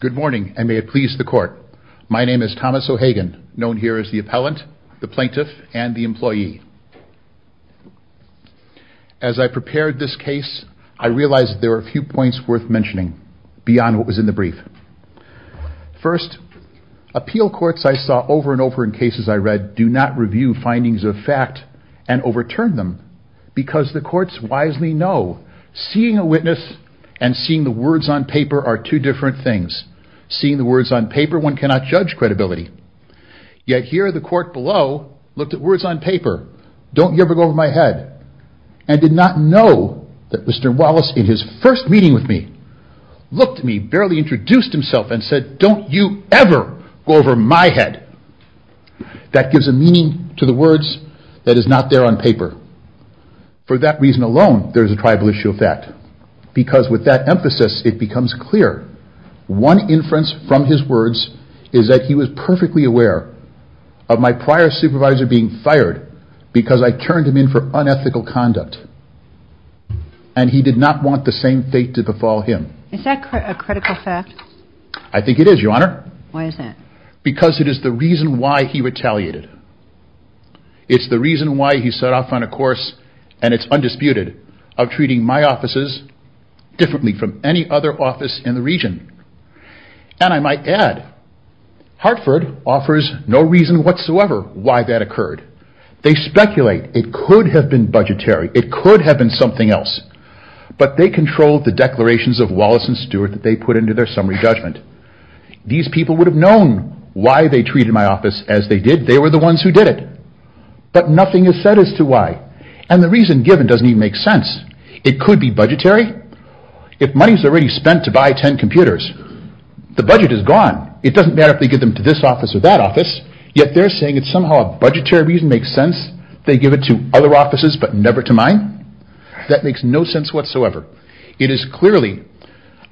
Good morning and may it please the court. My name is Thomas O'Hagan, known here as the appellant, the plaintiff, and the employee. As I prepared this case I realized there were a few points worth mentioning beyond what was in the brief. First, appeal courts I saw over and over in cases I read do not review findings of fact and overturn them because the courts wisely know seeing a witness and seeing the words on paper are two different things. Seeing the words on paper one cannot judge credibility. Yet here the court below looked at words on paper, don't you ever go over my head, and did not know that Mr. Wallace in his first meeting with me looked at me, barely introduced himself, and said don't you ever go over my head. That gives a meaning to the words that is not there on paper. For that reason alone there's a tribal issue of fact because with that emphasis it becomes clear one inference from his words is that he was perfectly aware of my prior supervisor being fired because I turned him in for unethical conduct and he did not want the same fate to befall him. Is that a critical fact? I think it is your honor. Why is that? Because it is the reason why he retaliated. It's the reason why he set off on a course and it's undisputed of treating my offices differently from any other office in the region. And I might add Hartford offers no reason whatsoever why that occurred. They speculate it could have been budgetary, it could have been something else, but they controlled the declarations of Wallace and Stewart that they put into their summary judgment. These people would have known why they treated my office as they did, they were the ones who did it, but nothing is said as to why and the reason given doesn't even make sense. It could be budgetary. If money's already spent to buy ten computers, the budget is gone. It doesn't matter if they give them to this office or that office, yet they're saying it's somehow a budgetary reason makes sense. They give it to other offices but never to mine. That makes no sense whatsoever. It is clearly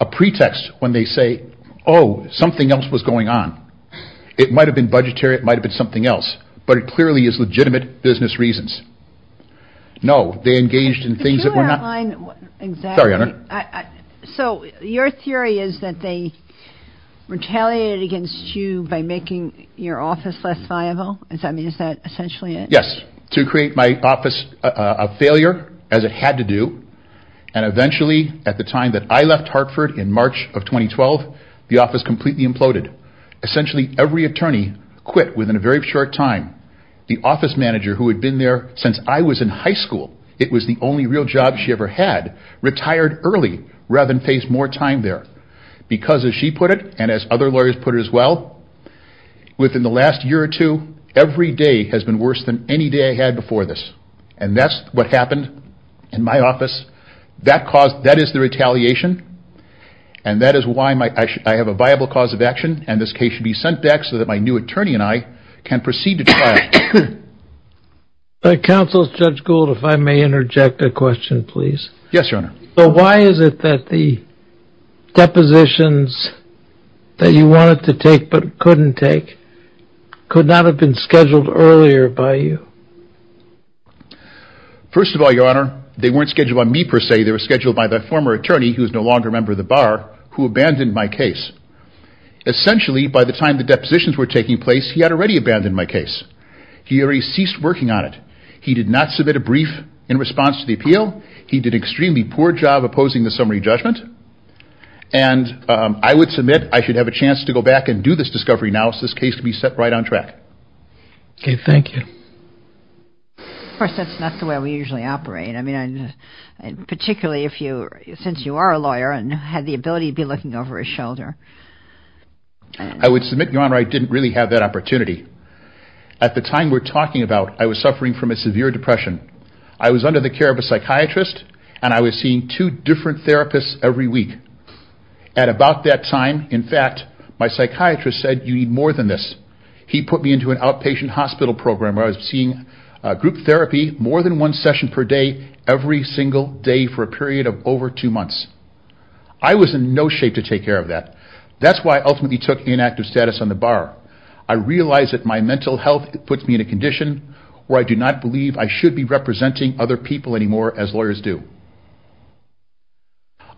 a pretext when they say, oh something else was going on. It might have been budgetary, it might have been something else, but it clearly is legitimate business reasons. No, they engaged in things that were not... So your theory is that they retaliated against you by making your office less viable? Is that essentially it? Yes, to create my office a failure as it had to do, and eventually at the time that I left Hartford in March of 2012, the office completely imploded. Essentially every attorney quit within a very short time. The office manager who had been there since I was in high school, it was the only real job she ever had, retired early rather than face more time there. Because as she put it, and as other lawyers put it as well, within the last year or two, every day has been worse than any day I had before this. And that's what happened in my office. That is the retaliation and that is why I have a viable cause of action and this case should be sent back so that my new attorney and I can proceed to trial. Counsel Judge Gould, if I may interject a question please. Yes, your honor. So why is it that the depositions that you wanted to take but couldn't take could not have been scheduled earlier by you? First of all, your honor, they weren't scheduled on me per se. They were scheduled on a former attorney, who is no longer a member of the bar, who abandoned my case. Essentially by the time the depositions were taking place he had already abandoned my case. He already ceased working on it. He did not submit a brief in response to the appeal. He did an extremely poor job opposing the summary judgment. And I would submit I should have a chance to go back and do this discovery analysis case to be set right on track. Okay, thank you. Of course, that's not the way we usually operate. I mean, particularly if you since you are a lawyer and had the ability to be looking over his shoulder. I would submit, your honor, I didn't really have that opportunity. At the time we're talking about I was suffering from a severe depression. I was under the care of a psychiatrist and I was seeing two different therapists every week. At about that time, in fact, my psychiatrist said you need more than this. He put me into an outpatient hospital program where I was seeing group therapy more than one months. I was in no shape to take care of that. That's why I ultimately took inactive status on the bar. I realized that my mental health puts me in a condition where I do not believe I should be representing other people anymore as lawyers do.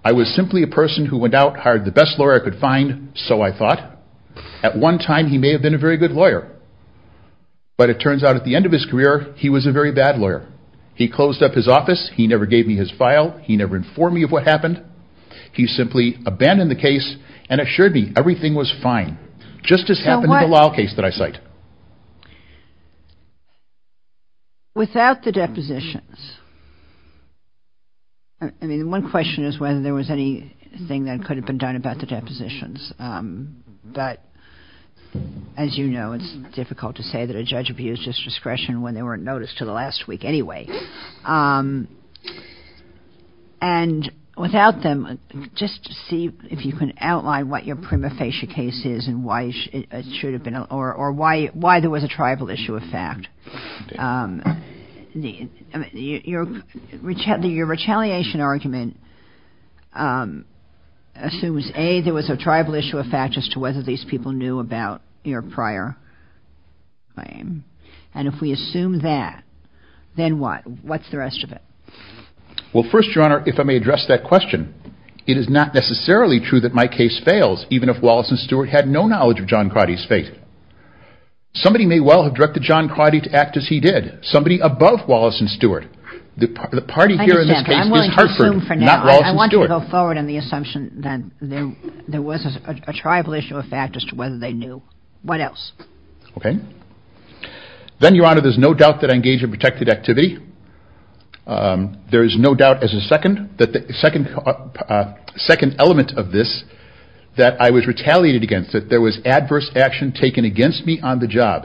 I was simply a person who went out, hired the best lawyer I could find, so I thought. At one time he may have been a very good lawyer, but it turns out at the end of his career he was a very bad lawyer. He closed up his office. He never gave me his file. He never informed me of what happened. He simply abandoned the case and assured me everything was fine, just as happened in the Lyle case that I cite. Without the depositions, I mean, one question is whether there was anything that could have been done about the depositions, but as you know it's difficult to say that a judge abused his discretion when they weren't noticed till last week anyway. Without them, just see if you can outline what your prima facie case is and why it should have been, or why there was a tribal issue of fact. Your retaliation argument assumes, A, there was a tribal issue of fact as to whether these people knew about your prior claim, and if we assume that, then what? What's the rest of it? Well first, Your Honor, if I may address that question, it is not necessarily true that my case fails, even if Wallace and Stewart had no knowledge of John Crotty's fate. Somebody may well have directed John Crotty to act as he did. Somebody above Wallace and Stewart. The party here in this case is Hartford, not Wallace and Stewart. I want to go forward on the assumption that there was a tribal issue of fact as to whether they knew. What Your Honor, there's no doubt that I engage in protected activity. There is no doubt as a second element of this that I was retaliated against, that there was adverse action taken against me on the job,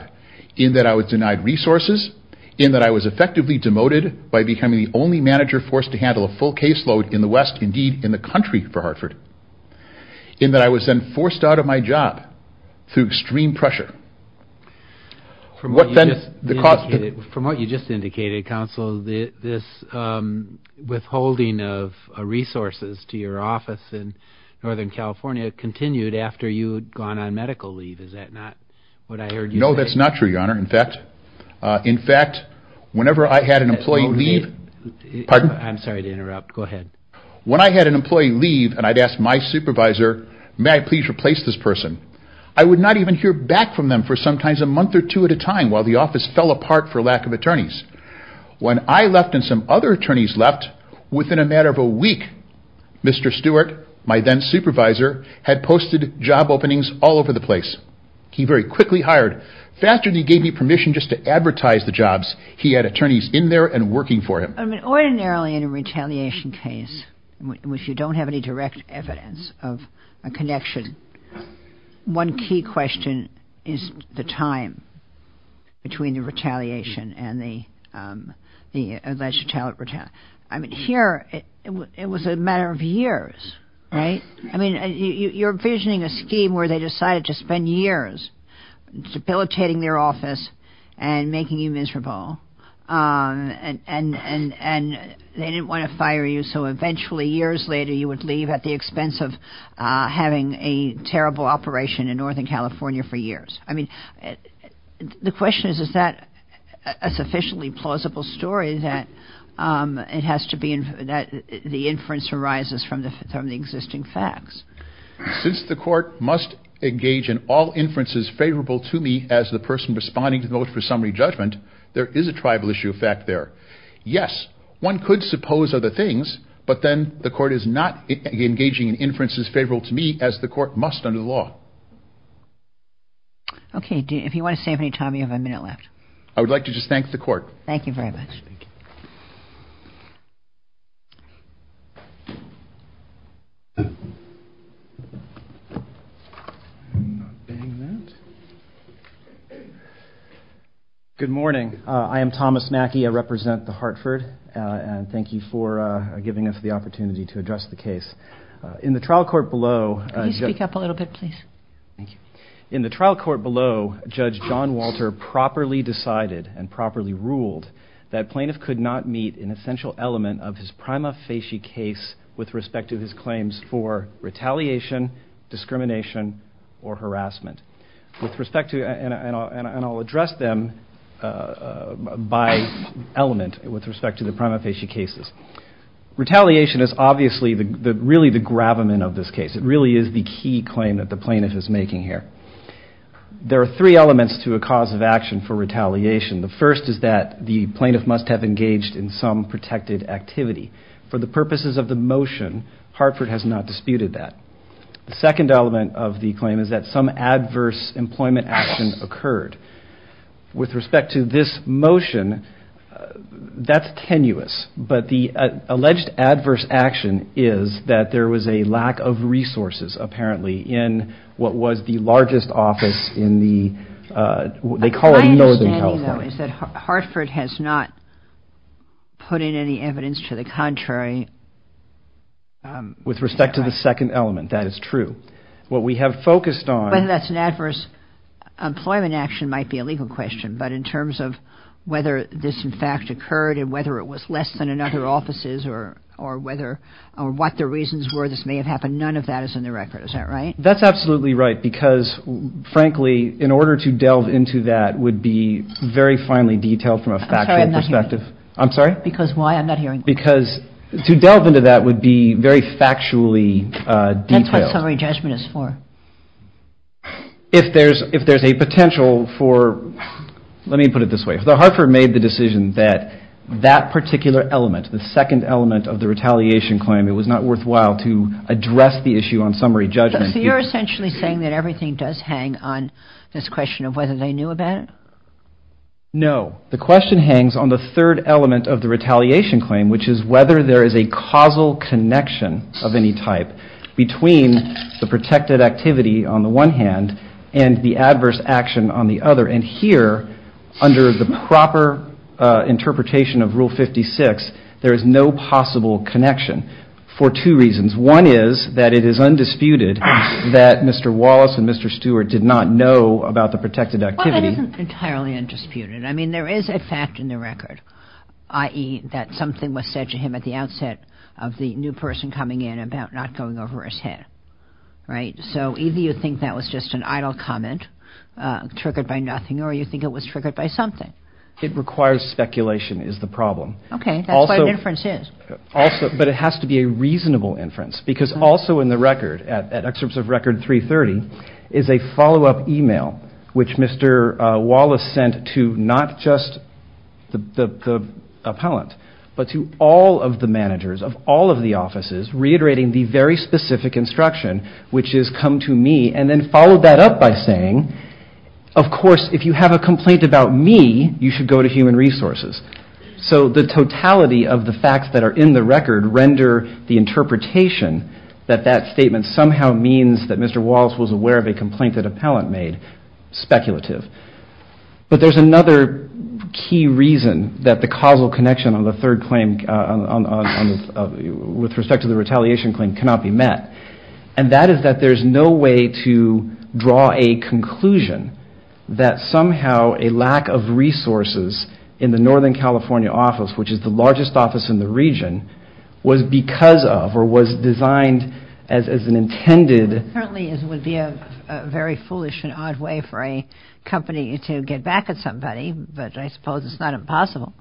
in that I was denied resources, in that I was effectively demoted by becoming the only manager forced to handle a full caseload in the West, indeed in the country for Hartford, in that I was then forced out of my job through extreme pressure. What then, the From what you just indicated, Counsel, this withholding of resources to your office in Northern California continued after you had gone on medical leave, is that not what I heard you say? No, that's not true, Your Honor. In fact, whenever I had an employee leave, I'm sorry to interrupt, go ahead. When I had an employee leave and I'd asked my supervisor, may I please replace this person, I would not even hear back from them for sometimes a month or two at a part for lack of attorneys. When I left and some other attorneys left, within a matter of a week, Mr. Stewart, my then supervisor, had posted job openings all over the place. He very quickly hired. Faster than he gave me permission just to advertise the jobs, he had attorneys in there and working for him. Ordinarily in a retaliation case, which you don't have any direct evidence of a connection, one key question is the time between the retaliation and the alleged retaliant retaliation. I mean, here, it was a matter of years, right? I mean, you're envisioning a scheme where they decided to spend years debilitating their office and making you miserable and they didn't want to fire you. So eventually, years later, you would leave at the expense of having a terrible operation in Northern California for years. I mean, the question is, is that a sufficiently plausible story that it has to be, that the inference arises from the existing facts? Since the court must engage in all inferences favorable to me as the person responding to the oath for summary judgment, there is a tribal issue fact there. Yes, one could suppose other things, but then the court is not engaging in inferences favorable to me as the court must under the law. Okay, if you want to save any time, you have a minute left. I would like to just thank the court. Thank you very much. Thank you. Good morning. I am Thomas Mackey. I represent the Hartford and thank you for giving us the opportunity to address the case. In the trial court below. Can you speak up a little bit, please? Thank you. In the trial court below, Judge John Walter properly decided and properly ruled that plaintiff could not meet an essential element of his prima facie case with respect to his claims for retaliation, discrimination, or harassment. With respect to, and I'll address them by element with respect to the prima facie cases. Retaliation is obviously really the gravamen of this case. It really is the key claim that the plaintiff is The first is that the plaintiff must have engaged in some protected activity. For the purposes of the motion, Hartford has not disputed that. The second element of the claim is that some adverse employment action occurred. With respect to this motion, that's tenuous, but the alleged adverse action is that there was a lack of resources, apparently, in what was the largest office in the, they call northern California. Hartford has not put in any evidence to the contrary. With respect to the second element, that is true. What we have focused on. Whether that's an adverse employment action might be a legal question, but in terms of whether this in fact occurred, and whether it was less than in other offices, or whether, or what the reasons were this may have happened, none of that is in the record. Is that right? That's absolutely right, because frankly, in this case, it would be very finely detailed from a factual perspective. I'm sorry? Because why? I'm not hearing. Because to delve into that would be very factually detailed. That's what summary judgment is for. If there's, if there's a potential for, let me put it this way, if Hartford made the decision that that particular element, the second element of the retaliation claim, it was not worthwhile to address the issue on summary judgment. So you're essentially saying that everything does hang on this question of whether they knew about it? No. The question hangs on the third element of the retaliation claim, which is whether there is a causal connection of any type between the protected activity on the one hand, and the adverse action on the other. And here, under the proper interpretation of Rule 56, there is no possible connection for two things. I mean, Mr. Wallace and Mr. Stewart did not know about the protected activity. Well, that isn't entirely undisputed. I mean, there is a fact in the record, i.e., that something was said to him at the outset of the new person coming in about not going over his head. Right? So either you think that was just an idle comment, triggered by nothing, or you think it was triggered by something. It requires speculation, is the problem. Okay. That's what an inference is. Also, but it has to be a reasonable inference, because also in the record, at Excerpts of Record 330, is a follow-up email, which Mr. Wallace sent to not just the appellant, but to all of the managers of all of the offices, reiterating the very specific instruction, which is, come to me, and then followed that up by saying, of course, if you have a complaint about me, you should go to Human Resources. So the totality of the facts that are in the record render the interpretation that that statement somehow means that Mr. Wallace was aware of a complaint that appellant made speculative. But there's another key reason that the causal connection on the third claim, with respect to the retaliation claim, cannot be met, and that is that there's no way to draw a conclusion that somehow a lack of resources in the Northern California office, which is the largest office in the region, was because of, or was designed as an intended... Certainly, it would be a very foolish and odd way for a company to get back at somebody, but I suppose it's not impossible.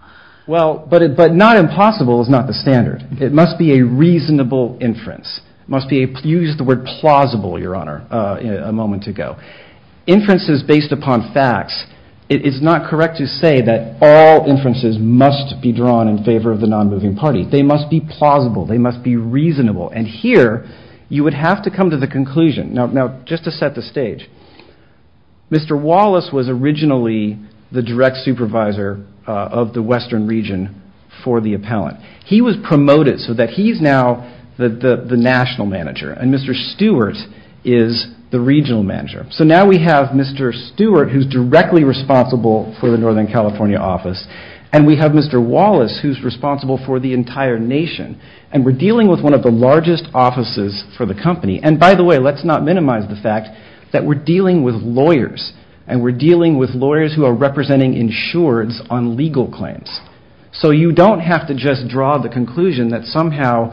Well, but not impossible is not the standard. It must be a reasonable inference. You used the word plausible, Your Honor, a moment ago. Inferences based upon facts, it is not correct to say that all inferences must be drawn in favor of the non-moving parties. They must be plausible. They must be reasonable. And here, you would have to come to the conclusion. Now, just to set the stage, Mr. Wallace was originally the direct supervisor of the Western region for the appellant. He was promoted so that he's now the national manager, and Mr. Stewart is the regional manager. So now we have Mr. Stewart, who's directly responsible for the Northern California office, and we have Mr. Wallace, who's responsible for the entire nation, and we're dealing with one of the largest offices for the company. And by the way, let's not minimize the fact that we're dealing with lawyers, and we're dealing with lawyers who are representing insureds on legal claims. So you don't have to just draw the conclusion that somehow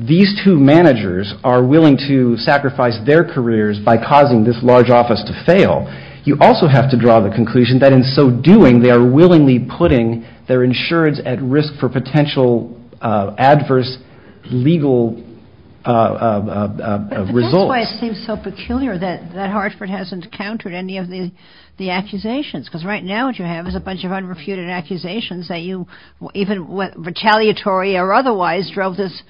these two managers are willing to sacrifice their careers by causing this large office to fail. You also have to draw the conclusion that in so doing, they are potential adverse legal results. But that's why it seems so peculiar that Hartford hasn't countered any of the accusations, because right now what you have is a bunch of unrefuted accusations that you, even retaliatory or otherwise, drove this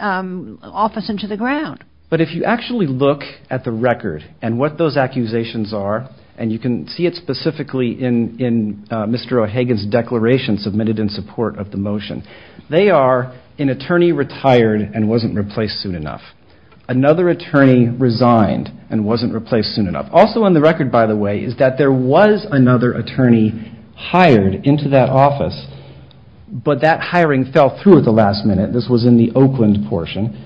office into the ground. But if you actually look at the record and what those accusations are, and you can see it specifically in Mr. O'Hagan's declaration submitted in the motion, they are an attorney retired and wasn't replaced soon enough, another attorney resigned and wasn't replaced soon enough. Also on the record, by the way, is that there was another attorney hired into that office, but that hiring fell through at the last minute. This was in the Oakland portion,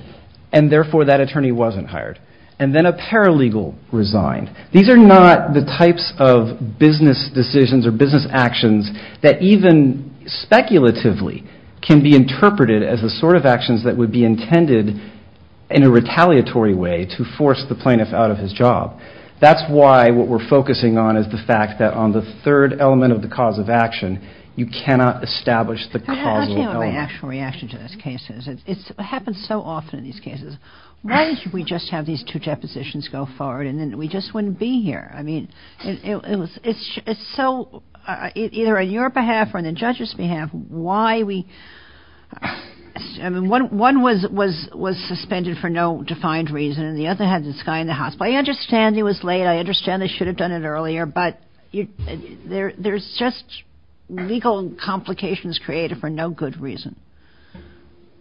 and therefore that attorney wasn't hired. And then a paralegal resigned. These are not the actions that can be interpreted as the sort of actions that would be intended in a retaliatory way to force the plaintiff out of his job. That's why what we're focusing on is the fact that on the third element of the cause of action, you cannot establish the causal element. Can I ask you about my actual reaction to this case? It happens so often in these cases. Why did we just have these two depositions go forward and then we just wouldn't be here? I mean, it's so, either on your behalf or on the judge's behalf, why we... I mean, one was suspended for no defined reason, and the other had this guy in the hospital. I understand he was late. I understand they should have done it earlier. But there's just legal complications created for no good reason.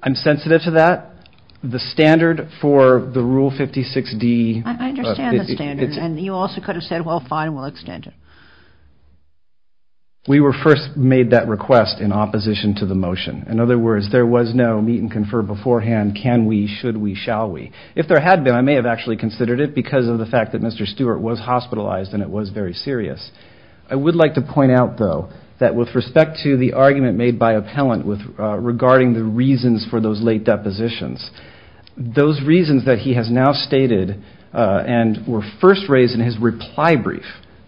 I'm sensitive to that. The standard for the Rule 56D... I understand the standard, and you also could have said, well, fine, we'll extend it. We were first made that request in opposition to the motion. In other words, there was no meet and confer beforehand, can we, should we, shall we? If there had been, I may have actually considered it because of the fact that Mr. Stewart was hospitalized and it was very serious. I would like to point out, though, that with respect to the argument made by appellant regarding the reasons for those late depositions, those reasons that he has now stated and were first raised in his reply brief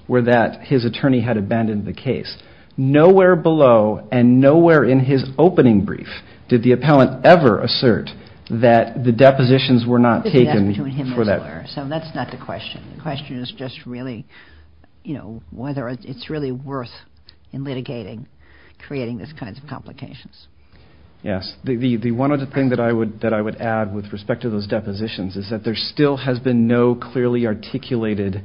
were that his attorney had abandoned the case. Nowhere below and nowhere in his opening brief did the appellant ever assert that the depositions were not taken for that... So that's not the question. The question is just really, you know, whether it's really worth in litigating, creating these kinds of complications. Yes. The one other thing that I would add with respect to those depositions is that there still has been no clearly articulated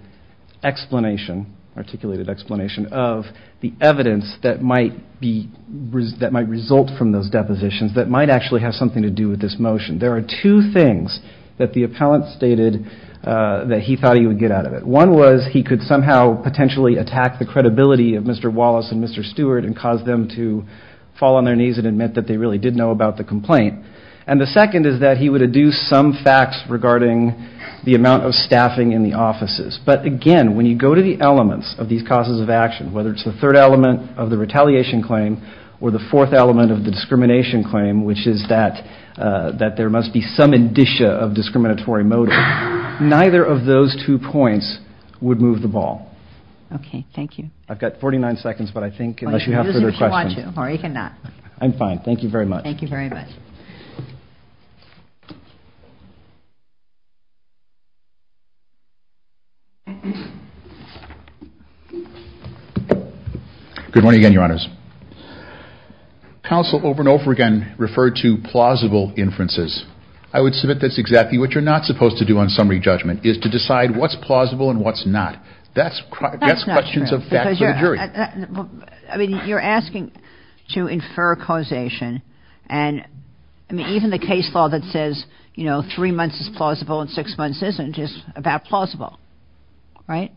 explanation, articulated explanation, of the evidence that might result from those depositions that might actually have something to do with this motion. There are two things that the appellant stated that he thought he would get out of it. One was he could somehow potentially attack the credibility of Mr. Wallace and Mr. Stewart and cause them to fall on their knees and admit that they really did know about the complaint. And the second is that he would adduce some facts regarding the amount of staffing in the offices. But again, when you go to the elements of these causes of action, whether it's the third element of the retaliation claim or the fourth element of the discrimination claim, which is that there must be some indicia of discriminatory motive, neither of those two points would move the ball. Okay. Thank you. I've got 49 seconds, but I think unless you have further questions, I'm fine. Thank you very much. Good morning again, Your Honors. Counsel over and over again referred to plausible inferences. I would submit that's exactly what you're not supposed to do on summary judgment is to decide what's plausible and what's not. That's questions of facts for the jury. I mean, you're asking to infer causation, and even the case law that says three months is plausible and six months isn't is about plausible, right?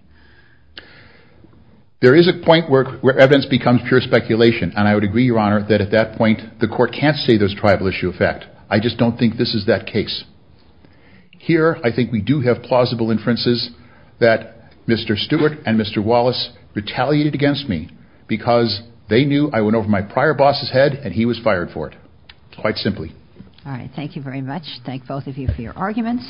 There is a point where evidence becomes pure speculation, and I would agree, Your Honor, that at that point the court can't say there's a tribal issue of fact. I just don't think this is that case. Mr. Stewart and Mr. Wallace retaliated against me because they knew I went over my prior boss's head and he was fired for it, quite simply. All right. Thank you very much. Thank both of you for your arguments.